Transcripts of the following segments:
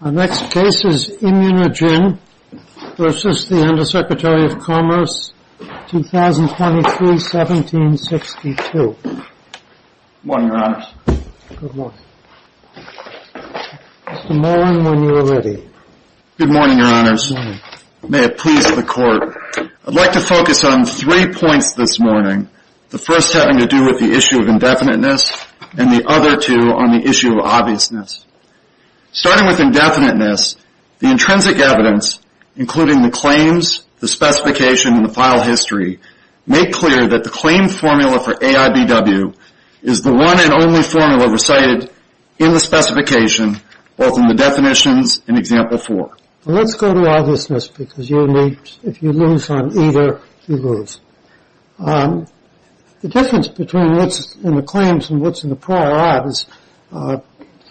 Our next case is ImmunoGen v. The Undersecretary of Commerce, 2023-1762. Good morning, Your Honors. Good morning. Mr. Mollen, when you are ready. Good morning, Your Honors. Good morning. May it please the Court. I'd like to focus on three points this morning, the first having to do with the issue of indefiniteness, and the other two on the issue of obviousness. Starting with indefiniteness, the intrinsic evidence, including the claims, the specification, and the file history, make clear that the claim formula for AIBW is the one and only formula recited in the specification, both in the definitions and Example 4. Let's go to obviousness, because if you lose on either, you lose. The difference between what's in the claims and what's in the prior art is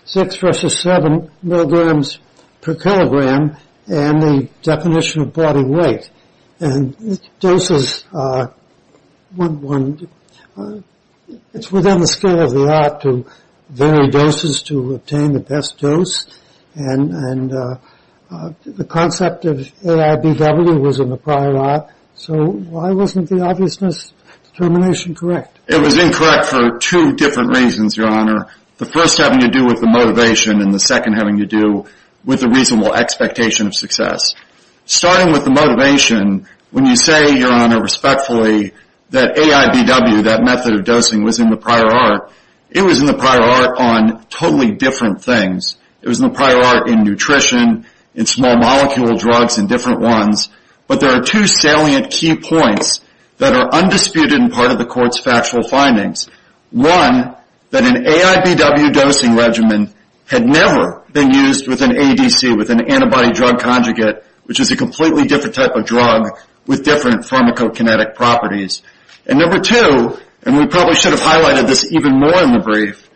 six versus seven milligrams per kilogram and the definition of body weight. And doses, it's within the scale of the art to vary doses to obtain the best dose, and the concept of AIBW was in the prior art. So why wasn't the obviousness determination correct? It was incorrect for two different reasons, Your Honor. The first having to do with the motivation, and the second having to do with the reasonable expectation of success. Starting with the motivation, when you say, Your Honor, respectfully, that AIBW, that method of dosing, was in the prior art, it was in the prior art on totally different things. It was in the prior art in nutrition, in small molecule drugs and different ones, but there are two salient key points that are undisputed and part of the Court's factual findings. One, that an AIBW dosing regimen had never been used with an ADC, with an antibody drug conjugate, which is a completely different type of drug with different pharmacokinetic properties. And number two, and we probably should have highlighted this even more in the brief,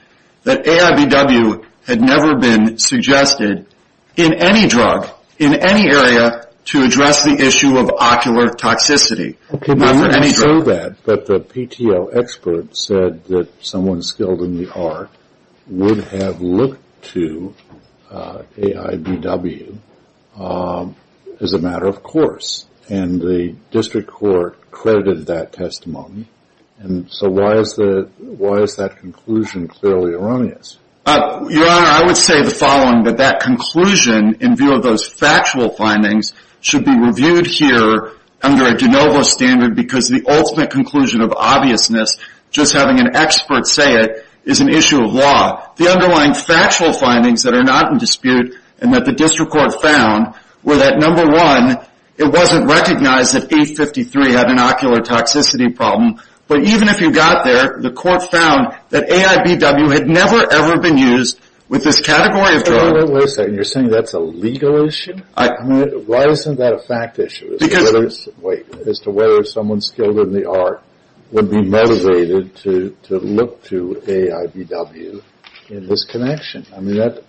that AIBW had never been suggested in any drug, in any area, to address the issue of ocular toxicity. Not in any drug. Okay, but you didn't show that, but the PTO expert said that someone skilled in the art would have looked to AIBW as a matter of course, and the District Court credited that testimony, and so why is that conclusion clearly erroneous? Your Honor, I would say the following, that that conclusion in view of those factual findings should be reviewed here under a de novo standard because the ultimate conclusion of obviousness, just having an expert say it, is an issue of law. The underlying factual findings that are not in dispute and that the District Court found were that, number one, it wasn't recognized that A53 had an ocular toxicity problem, but even if you got there, the court found that AIBW had never, ever been used with this category of drug. Wait a second. You're saying that's a legal issue? Why isn't that a fact issue as to whether someone skilled in the art would be motivated to look to AIBW in this connection? I mean, that's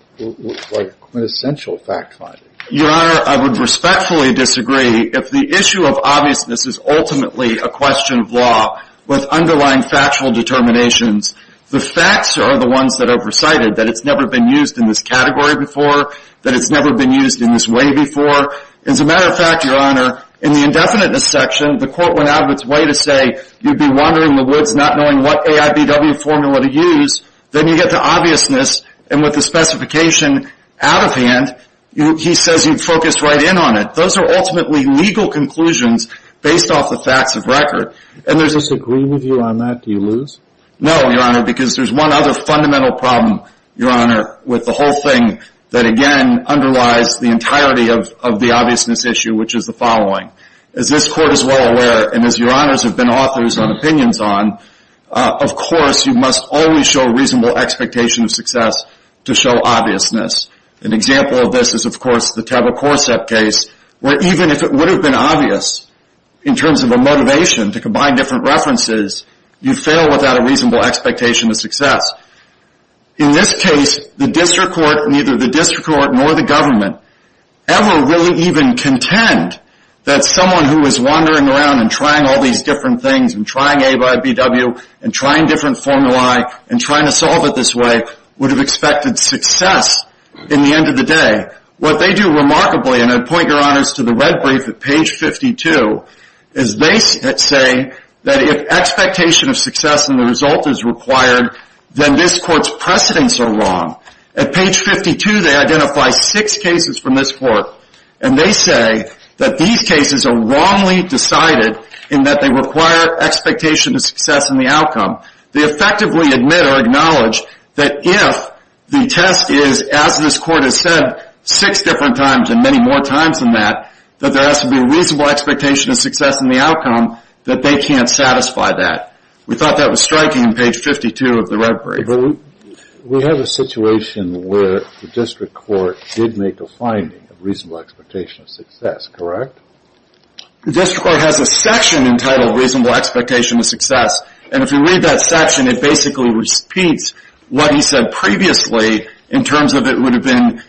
like quintessential fact finding. Your Honor, I would respectfully disagree if the issue of obviousness is ultimately a question of law with underlying factual determinations. The facts are the ones that are recited, that it's never been used in this category before, that it's never been used in this way before. As a matter of fact, Your Honor, in the indefiniteness section, the court went out of its way to say you'd be wandering the woods not knowing what AIBW formula to use. Then you get to obviousness, and with the specification out of hand, he says you'd focus right in on it. Those are ultimately legal conclusions based off the facts of record. Does this agree with you on that? Do you lose? No, Your Honor, because there's one other fundamental problem, Your Honor, with the whole thing that, again, underlies the entirety of the obviousness issue, which is the following. As this Court is well aware, and as Your Honors have been authors on opinions on, of course you must always show reasonable expectation of success to show obviousness. An example of this is, of course, the Teba Corsett case, where even if it would have been obvious in terms of a motivation to combine different references, you'd fail without a reasonable expectation of success. In this case, the district court, neither the district court nor the government, ever really even contend that someone who is wandering around and trying all these different things and trying AIBW and trying different formulae and trying to solve it this way would have expected success in the end of the day. What they do remarkably, and I point Your Honors to the red brief at page 52, is they say that if expectation of success in the result is required, then this Court's precedents are wrong. At page 52, they identify six cases from this Court, and they say that these cases are wrongly decided in that they require expectation of success in the outcome. They effectively admit or acknowledge that if the test is, as this Court has said, six different times and many more times than that, that there has to be a reasonable expectation of success in the outcome, that they can't satisfy that. We thought that was striking in page 52 of the red brief. We have a situation where the district court did make a finding of reasonable expectation of success, correct? The district court has a section entitled reasonable expectation of success, and if you read that section, it basically repeats what he said previously in terms of it would have been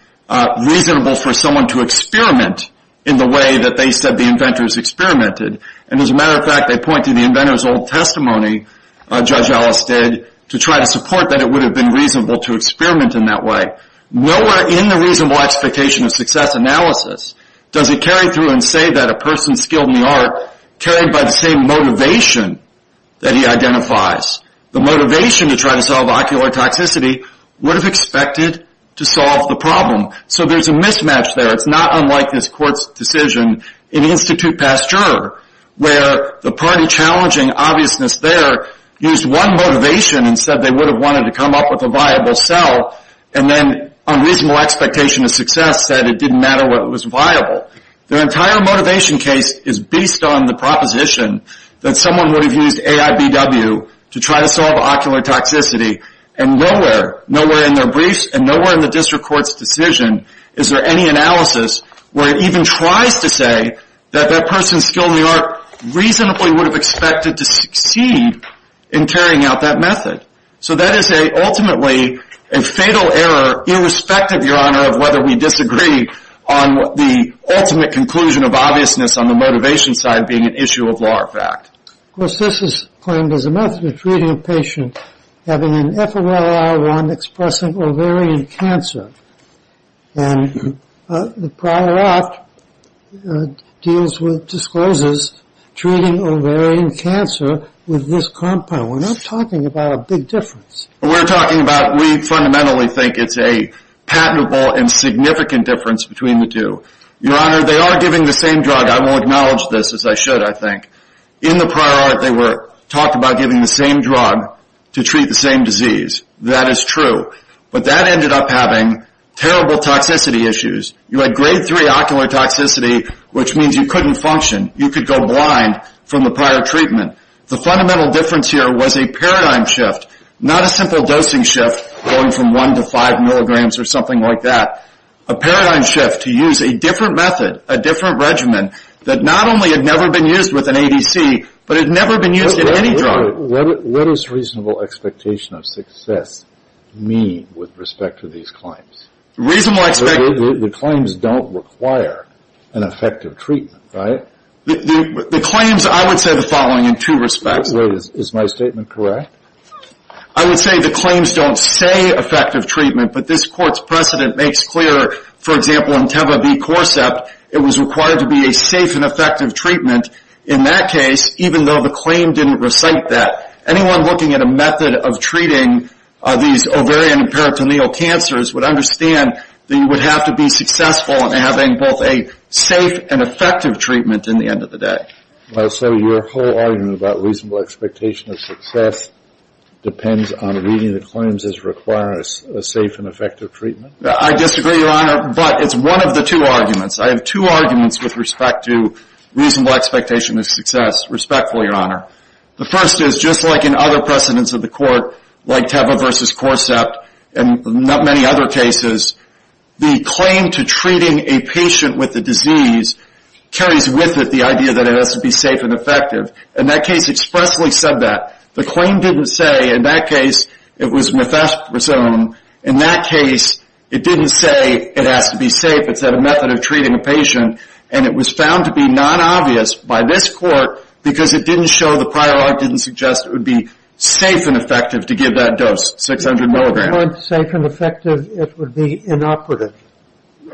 reasonable for someone to experiment in the way that they said the inventors experimented. And as a matter of fact, they point to the inventor's old testimony, Judge Ellis did, to try to support that it would have been reasonable to experiment in that way. Nowhere in the reasonable expectation of success analysis does it carry through and say that a person skilled in the art carried by the same motivation that he identifies. The motivation to try to solve ocular toxicity would have expected to solve the problem. So there's a mismatch there. It's not unlike this Court's decision in Institute Pasteur where the party challenging obviousness there used one motivation and said they would have wanted to come up with a viable cell, and then on reasonable expectation of success said it didn't matter what was viable. Their entire motivation case is based on the proposition that someone would have used AIBW to try to solve ocular toxicity, and nowhere, nowhere in their briefs and nowhere in the district court's decision is there any analysis where it even tries to say that that person skilled in the art reasonably would have expected to succeed in carrying out that method. So that is ultimately a fatal error irrespective, Your Honor, of whether we disagree on the ultimate conclusion of obviousness on the motivation side being an issue of law or fact. Of course, this is claimed as a method of treating a patient having an FMLIR1-expressing ovarian cancer, and the prior act deals with discloses treating ovarian cancer with this compound. We're not talking about a big difference. We're talking about we fundamentally think it's a patentable and significant difference between the two. Your Honor, they are giving the same drug. I won't acknowledge this as I should, I think. In the prior act, they were talking about giving the same drug to treat the same disease. That is true, but that ended up having terrible toxicity issues. You had grade 3 ocular toxicity, which means you couldn't function. You could go blind from the prior treatment. The fundamental difference here was a paradigm shift, not a simple dosing shift going from 1 to 5 milligrams or something like that. A paradigm shift to use a different method, a different regimen, that not only had never been used with an ADC, but had never been used in any drug. What does reasonable expectation of success mean with respect to these claims? The claims don't require an effective treatment, right? The claims, I would say the following in two respects. Is my statement correct? I would say the claims don't say effective treatment, but this Court's precedent makes clear, for example, in Teva B. Corsept, it was required to be a safe and effective treatment in that case, even though the claim didn't recite that. Anyone looking at a method of treating these ovarian and peritoneal cancers would understand that you would have to be successful in having both a safe and effective treatment in the end of the day. So your whole argument about reasonable expectation of success depends on reading the claims as requiring a safe and effective treatment? I disagree, Your Honor, but it's one of the two arguments. I have two arguments with respect to reasonable expectation of success. Respectful, Your Honor. The first is, just like in other precedents of the Court, like Teva B. Corsept and many other cases, the claim to treating a patient with the disease carries with it the idea that it has to be safe and effective. And that case expressly said that. The claim didn't say, in that case, it was methasperazone. In that case, it didn't say it has to be safe. It said a method of treating a patient, and it was found to be non-obvious by this Court because it didn't show, the prior art didn't suggest, it would be safe and effective to give that dose, 600 milligrams. If it weren't safe and effective, it would be inoperative. They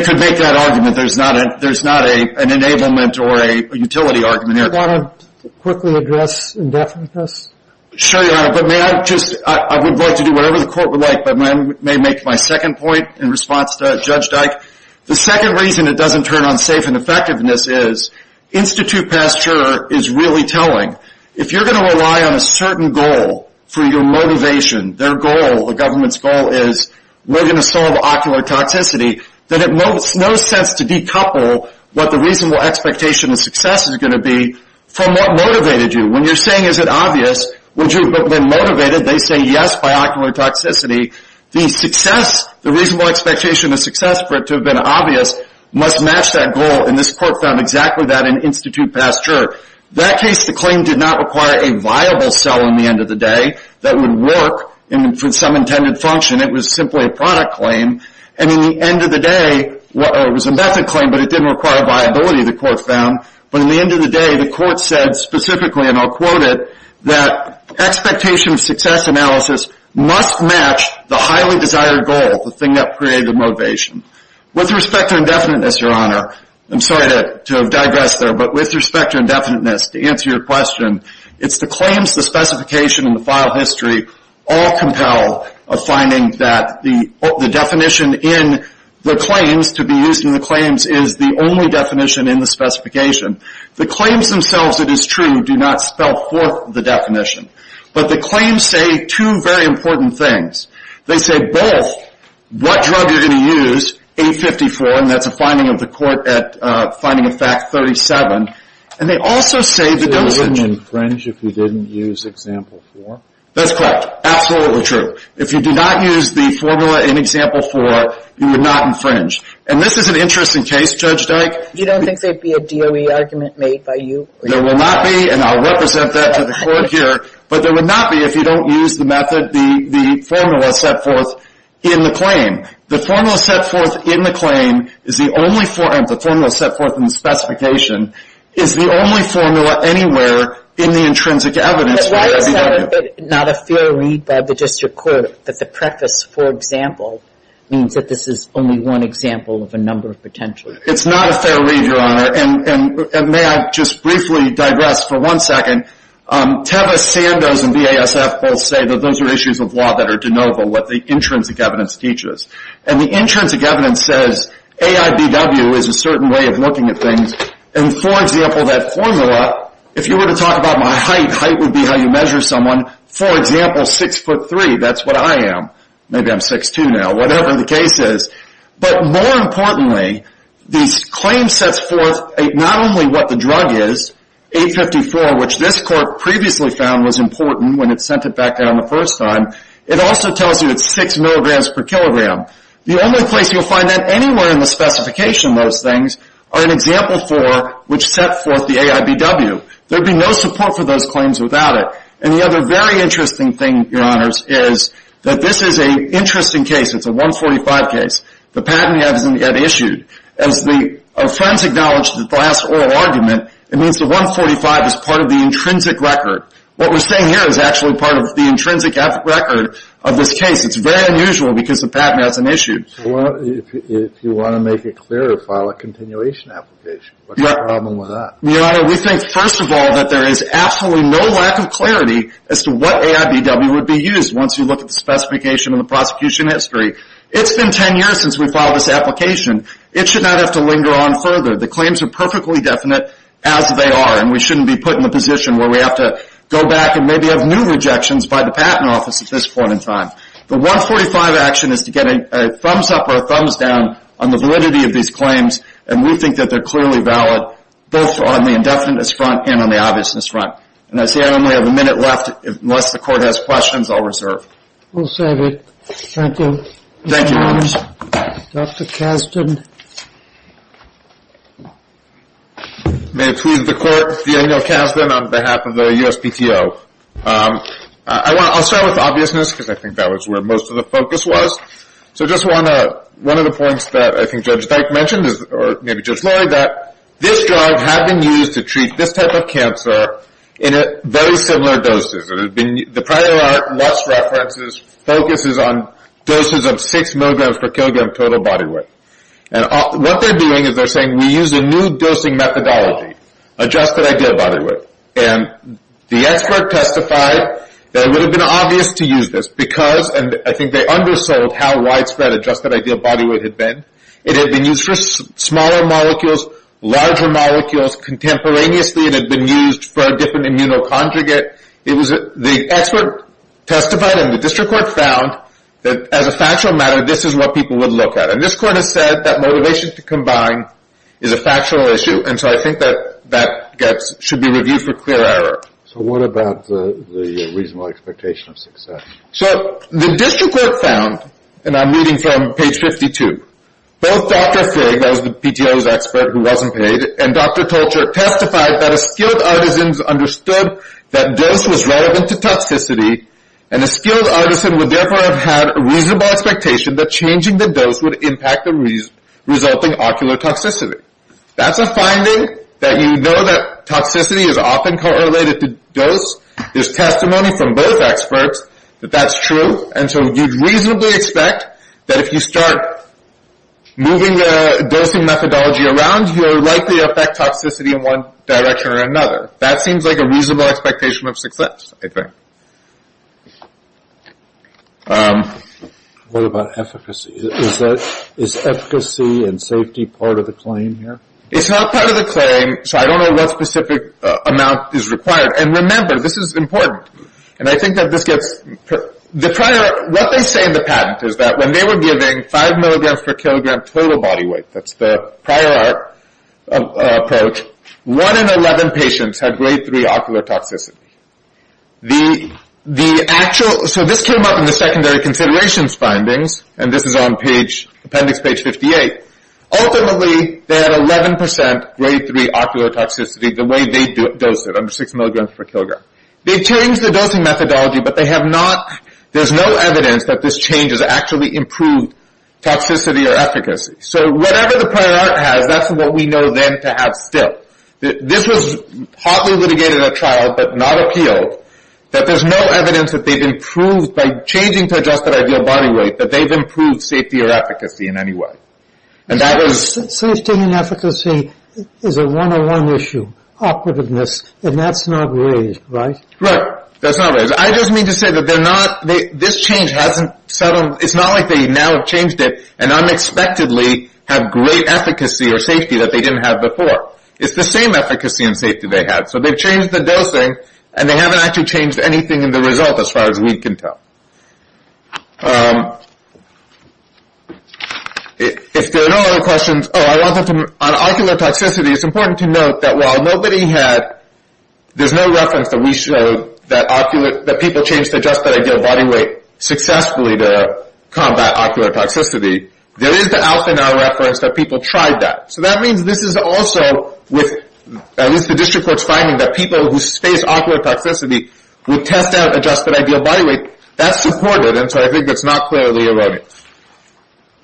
could make that argument. There's not an enablement or a utility argument here. Do you want to quickly address indefiniteness? Sure, Your Honor, but may I just – I would like to do whatever the Court would like, but may I make my second point in response to Judge Dyke? The second reason it doesn't turn on safe and effectiveness is, institute pasture is really telling. If you're going to rely on a certain goal for your motivation, their goal, the government's goal is we're going to solve ocular toxicity, then it makes no sense to decouple what the reasonable expectation of success is going to be from what motivated you. When you're saying is it obvious, would you have been motivated, they say yes by ocular toxicity. The success, the reasonable expectation of success for it to have been obvious must match that goal, and this Court found exactly that in institute pasture. That case, the claim did not require a viable cell in the end of the day that would work for some intended function. It was simply a product claim, and in the end of the day, it was a method claim, but it didn't require viability, the Court found, but in the end of the day, the Court said specifically, and I'll quote it, that expectation of success analysis must match the highly desired goal, the thing that created the motivation. With respect to indefiniteness, Your Honor, I'm sorry to have digressed there, but with respect to indefiniteness, to answer your question, it's the claims, the specification, and the file history all compel a finding that the definition in the claims, to be used in the claims, is the only definition in the specification. The claims themselves, it is true, do not spell forth the definition, but the claims say two very important things. They say both what drug you're going to use, 854, and that's a finding of the court at finding of fact 37, and they also say the dosage. Would you infringe if you didn't use example four? That's correct. Absolutely true. If you do not use the formula in example four, you would not infringe, and this is an interesting case, Judge Dyke. You don't think there would be a DOE argument made by you? There will not be, and I'll represent that to the Court here, but there would not be if you don't use the method, the formula set forth in the claim. The formula set forth in the claim is the only formula, and the formula set forth in the specification is the only formula anywhere in the intrinsic evidence for AIBW. Why is that not a fair read, Bob, but just your quote that the preface, for example, means that this is only one example of a number of potential? It's not a fair read, Your Honor, and may I just briefly digress for one second. Teva Sandoz and VASF both say that those are issues of law that are de novo, what the intrinsic evidence teaches, and the intrinsic evidence says AIBW is a certain way of looking at things, and, for example, that formula, if you were to talk about my height, height would be how you measure someone. For example, 6'3", that's what I am. Maybe I'm 6'2", now, whatever the case is. But more importantly, this claim sets forth not only what the drug is, 854, which this Court previously found was important when it sent it back down the first time. It also tells you it's 6 milligrams per kilogram. The only place you'll find that anywhere in the specification, those things, are in Example 4, which set forth the AIBW. There would be no support for those claims without it. And the other very interesting thing, Your Honors, is that this is an interesting case. It's a 145 case. The patent hasn't yet issued. As our friends acknowledged at the last oral argument, it means the 145 is part of the intrinsic record. What we're saying here is actually part of the intrinsic record of this case. It's very unusual because the patent hasn't issued. If you want to make it clearer, file a continuation application. What's the problem with that? Your Honor, we think, first of all, that there is absolutely no lack of clarity as to what AIBW would be used, once you look at the specification and the prosecution history. It's been 10 years since we filed this application. It should not have to linger on further. The claims are perfectly definite as they are, and we shouldn't be put in a position where we have to go back and maybe have new rejections by the Patent Office at this point in time. The 145 action is to get a thumbs-up or a thumbs-down on the validity of these claims, and we think that they're clearly valid, both on the indefiniteness front and on the obviousness front. And I see I only have a minute left. Unless the Court has questions, I'll reserve. We'll save it. Thank you. Thank you, Your Honors. Dr. Kasdan. May it please the Court, Daniel Kasdan on behalf of the USPTO. I'll start with obviousness, because I think that was where most of the focus was. So just one of the points that I think Judge Dyke mentioned, or maybe Judge Lloyd, that this drug had been used to treat this type of cancer in very similar doses. The prior Lutz references focuses on doses of 6 milligrams per kilogram total body weight. And what they're doing is they're saying, we use a new dosing methodology, adjusted ideal body weight. And the expert testified that it would have been obvious to use this, because, and I think they undersold how widespread adjusted ideal body weight had been. It had been used for smaller molecules, larger molecules. Contemporaneously, it had been used for a different immunoconjugate. The expert testified, and the district court found, that as a factual matter, this is what people would look at. And this court has said that motivation to combine is a factual issue. And so I think that that should be reviewed for clear error. So what about the reasonable expectation of success? So the district court found, and I'm reading from page 52, both Dr. Frigg, that was the PTO's expert who wasn't paid, and Dr. Tolcher testified that a skilled artisan understood that dose was relevant to toxicity, and a skilled artisan would therefore have had a reasonable expectation that changing the dose would impact the resulting ocular toxicity. That's a finding, that you know that toxicity is often correlated to dose. There's testimony from both experts that that's true. And so you'd reasonably expect that if you start moving the dosing methodology around, you'll likely affect toxicity in one direction or another. That seems like a reasonable expectation of success, I think. What about efficacy? Is efficacy and safety part of the claim here? It's not part of the claim, so I don't know what specific amount is required. And remember, this is important, and I think that this gets – what they say in the patent is that when they were giving 5 milligrams per kilogram total body weight, that's the prior art approach, 1 in 11 patients had grade 3 ocular toxicity. The actual – so this came up in the secondary considerations findings, and this is on page – appendix page 58. Ultimately, they had 11 percent grade 3 ocular toxicity the way they dosed it, under 6 milligrams per kilogram. They changed the dosing methodology, but they have not – there's no evidence that this change has actually improved toxicity or efficacy. So whatever the prior art has, that's what we know then to have still. This was partly litigated at trial, but not appealed, that there's no evidence that they've improved by changing to adjusted ideal body weight, that they've improved safety or efficacy in any way. And that was – Safety and efficacy is a one-on-one issue, operativeness, and that's not raised, right? Right. That's not raised. I just mean to say that they're not – this change hasn't settled – it's not like they now have changed it and unexpectedly have great efficacy or safety that they didn't have before. It's the same efficacy and safety they had. So they've changed the dosing, and they haven't actually changed anything in the result as far as we can tell. If there are no other questions – Oh, I wanted to – on ocular toxicity, it's important to note that while nobody had – there's no reference that we showed that ocular – that people changed to adjusted ideal body weight successfully to combat ocular toxicity. There is the alpha now reference that people tried that. So that means this is also with – at least the district court's finding that people who face ocular toxicity would test out adjusted ideal body weight. That's supported, and so I think that's not clearly erroneous.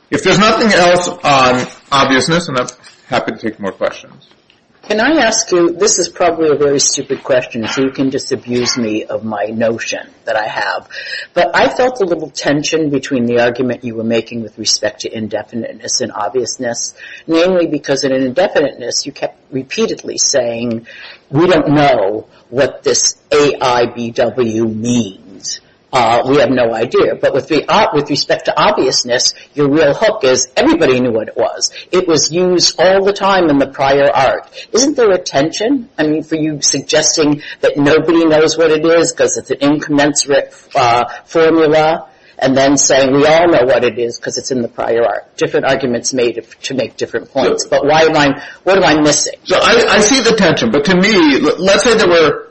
If there's nothing else on obviousness – and I'm happy to take more questions. Can I ask you – this is probably a very stupid question, so you can just abuse me of my notion that I have. But I felt a little tension between the argument you were making with respect to indefiniteness and obviousness, mainly because in indefiniteness you kept repeatedly saying, we don't know what this AIBW means. We have no idea. But with respect to obviousness, your real hook is everybody knew what it was. It was used all the time in the prior art. Isn't there a tension? I mean, for you suggesting that nobody knows what it is because it's an incommensurate formula, and then saying we all know what it is because it's in the prior art. There are different arguments made to make different points, but what am I missing? I see the tension, but to me, let's say that we're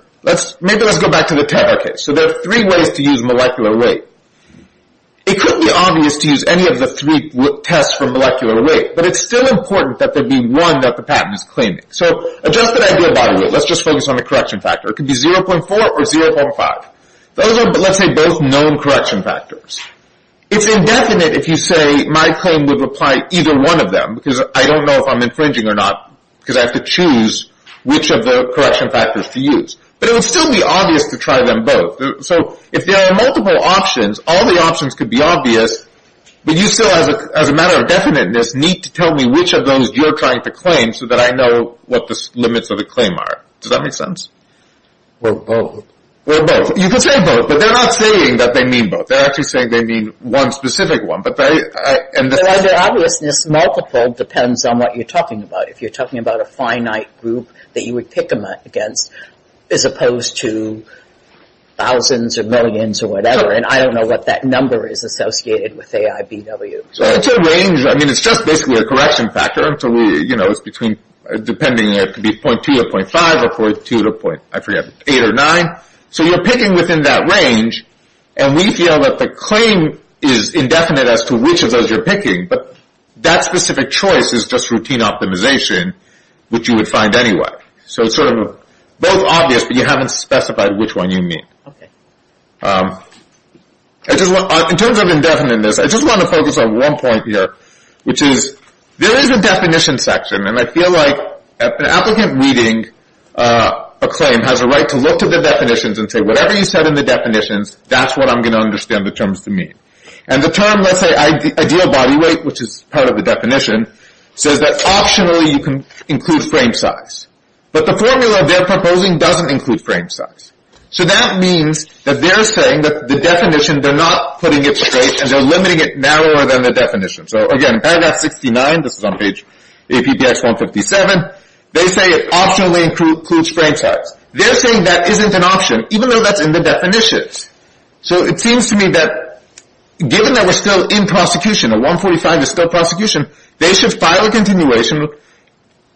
– maybe let's go back to the 10-hour case. So there are three ways to use molecular weight. It could be obvious to use any of the three tests for molecular weight, but it's still important that there be one that the patent is claiming. So adjusted ideal body weight – let's just focus on the correction factor. It could be 0.4 or 0.5. Those are, let's say, both known correction factors. It's indefinite if you say my claim would apply to either one of them because I don't know if I'm infringing or not because I have to choose which of the correction factors to use. But it would still be obvious to try them both. So if there are multiple options, all the options could be obvious, but you still, as a matter of definiteness, need to tell me which of those you're trying to claim so that I know what the limits of the claim are. Does that make sense? Well, both. Well, both. You can say both, but they're not saying that they mean both. They're actually saying they mean one specific one. But under obviousness, multiple depends on what you're talking about. If you're talking about a finite group that you would pick against as opposed to thousands or millions or whatever, and I don't know what that number is associated with AIBW. It's a range. I mean, it's just basically a correction factor. It's between – depending. It could be 0.2 to 0.5 or 0.2 to 0.8 or 0.9. So you're picking within that range, and we feel that the claim is indefinite as to which of those you're picking, but that specific choice is just routine optimization, which you would find anyway. So it's sort of both obvious, but you haven't specified which one you mean. In terms of indefiniteness, I just want to focus on one point here, which is there is a definition section, and I feel like an applicant reading a claim has a right to look to the definitions and say, whatever you said in the definitions, that's what I'm going to understand the terms to mean. And the term, let's say, ideal body weight, which is part of the definition, says that optionally you can include frame size. But the formula they're proposing doesn't include frame size. So that means that they're saying that the definition, they're not putting it straight, and they're limiting it narrower than the definition. So again, paragraph 69, this is on page APPS 157, they say it optionally includes frame size. They're saying that isn't an option, even though that's in the definitions. So it seems to me that given that we're still in prosecution, and 145 is still prosecution, they should file a continuation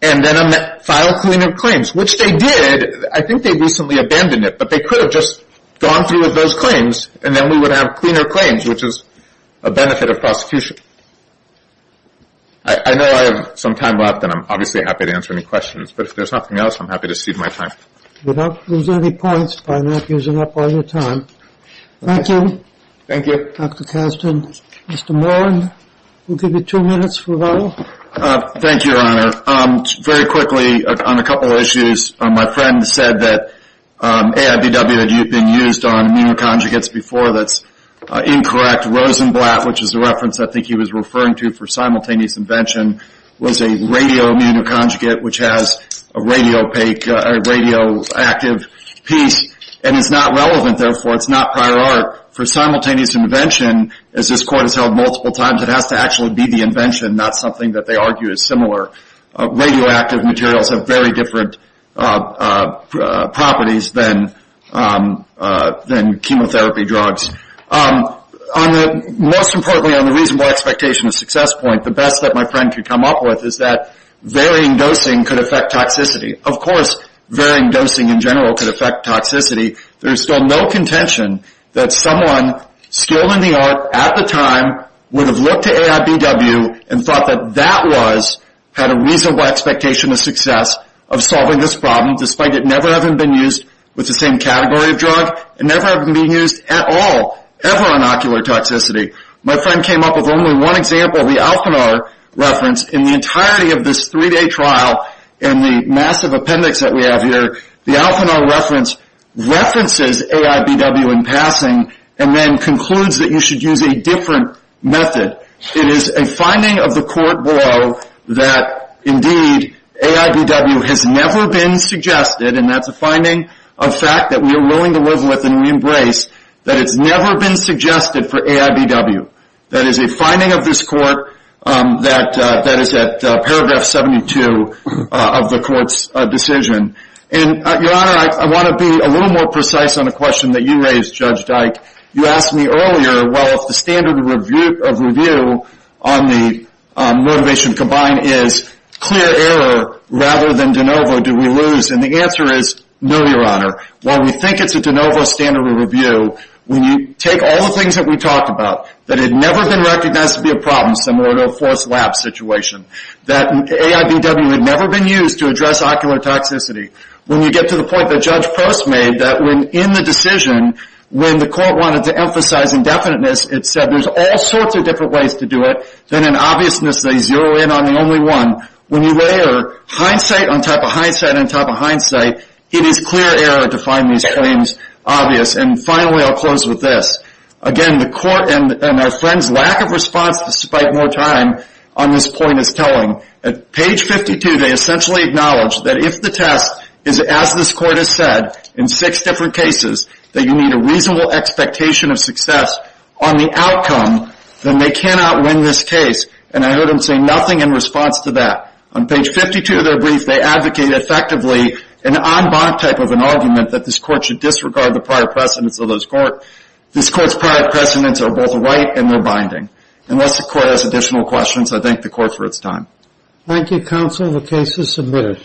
and then file cleaner claims, which they did. I think they recently abandoned it, but they could have just gone through with those claims, and then we would have cleaner claims, which is a benefit of prosecution. I know I have some time left, and I'm obviously happy to answer any questions. But if there's nothing else, I'm happy to cede my time. We don't lose any points by not using up all your time. Thank you. Thank you. Dr. Kazdin. Mr. Morin, we'll give you two minutes for a while. Thank you, Your Honor. Very quickly on a couple of issues. My friend said that AIBW had been used on immunoconjugates before. That's incorrect. Rosenblatt, which is the reference I think he was referring to for simultaneous invention, was a radio immunoconjugate, which has a radioactive piece, and it's not relevant, therefore. It's not prior art. For simultaneous invention, as this Court has held multiple times, it has to actually be the invention, not something that they argue is similar. Radioactive materials have very different properties than chemotherapy drugs. Most importantly, on the reasonable expectation of success point, the best that my friend could come up with is that varying dosing could affect toxicity. Of course, varying dosing in general could affect toxicity. There's still no contention that someone skilled in the art at the time would have looked to AIBW and thought that that was, had a reasonable expectation of success of solving this problem, despite it never having been used with the same category of drug and never having been used at all, ever, on ocular toxicity. My friend came up with only one example, the Alpinar reference. In the entirety of this three-day trial and the massive appendix that we have here, the Alpinar reference references AIBW in passing and then concludes that you should use a different method. It is a finding of the Court below that, indeed, AIBW has never been suggested, and that's a finding of fact that we are willing to live with and reembrace, that it's never been suggested for AIBW. That is a finding of this Court that is at paragraph 72 of the Court's decision. And, Your Honor, I want to be a little more precise on a question that you raised, Judge Dyke. You asked me earlier, well, if the standard of review on the motivation combined is clear error rather than de novo, do we lose? And the answer is no, Your Honor. While we think it's a de novo standard of review, when you take all the things that we talked about, that had never been recognized to be a problem, similar to a forced lab situation, that AIBW had never been used to address ocular toxicity, when you get to the point that Judge Post made that, in the decision, when the Court wanted to emphasize indefiniteness, it said there's all sorts of different ways to do it. Then, in obviousness, they zero in on the only one. When you layer hindsight on top of hindsight on top of hindsight, it is clear error to find these claims obvious. And finally, I'll close with this. Again, the Court and our friends' lack of response, despite more time on this point, is telling. At page 52, they essentially acknowledge that if the test is, as this Court has said, in six different cases, that you need a reasonable expectation of success on the outcome, then they cannot win this case. And I heard them say nothing in response to that. On page 52 of their brief, they advocate effectively an en banc type of an argument that this Court should disregard the prior precedents of this Court. This Court's prior precedents are both right and they're binding. Unless the Court has additional questions, I thank the Court for its time. Thank you, Counsel. The case is submitted.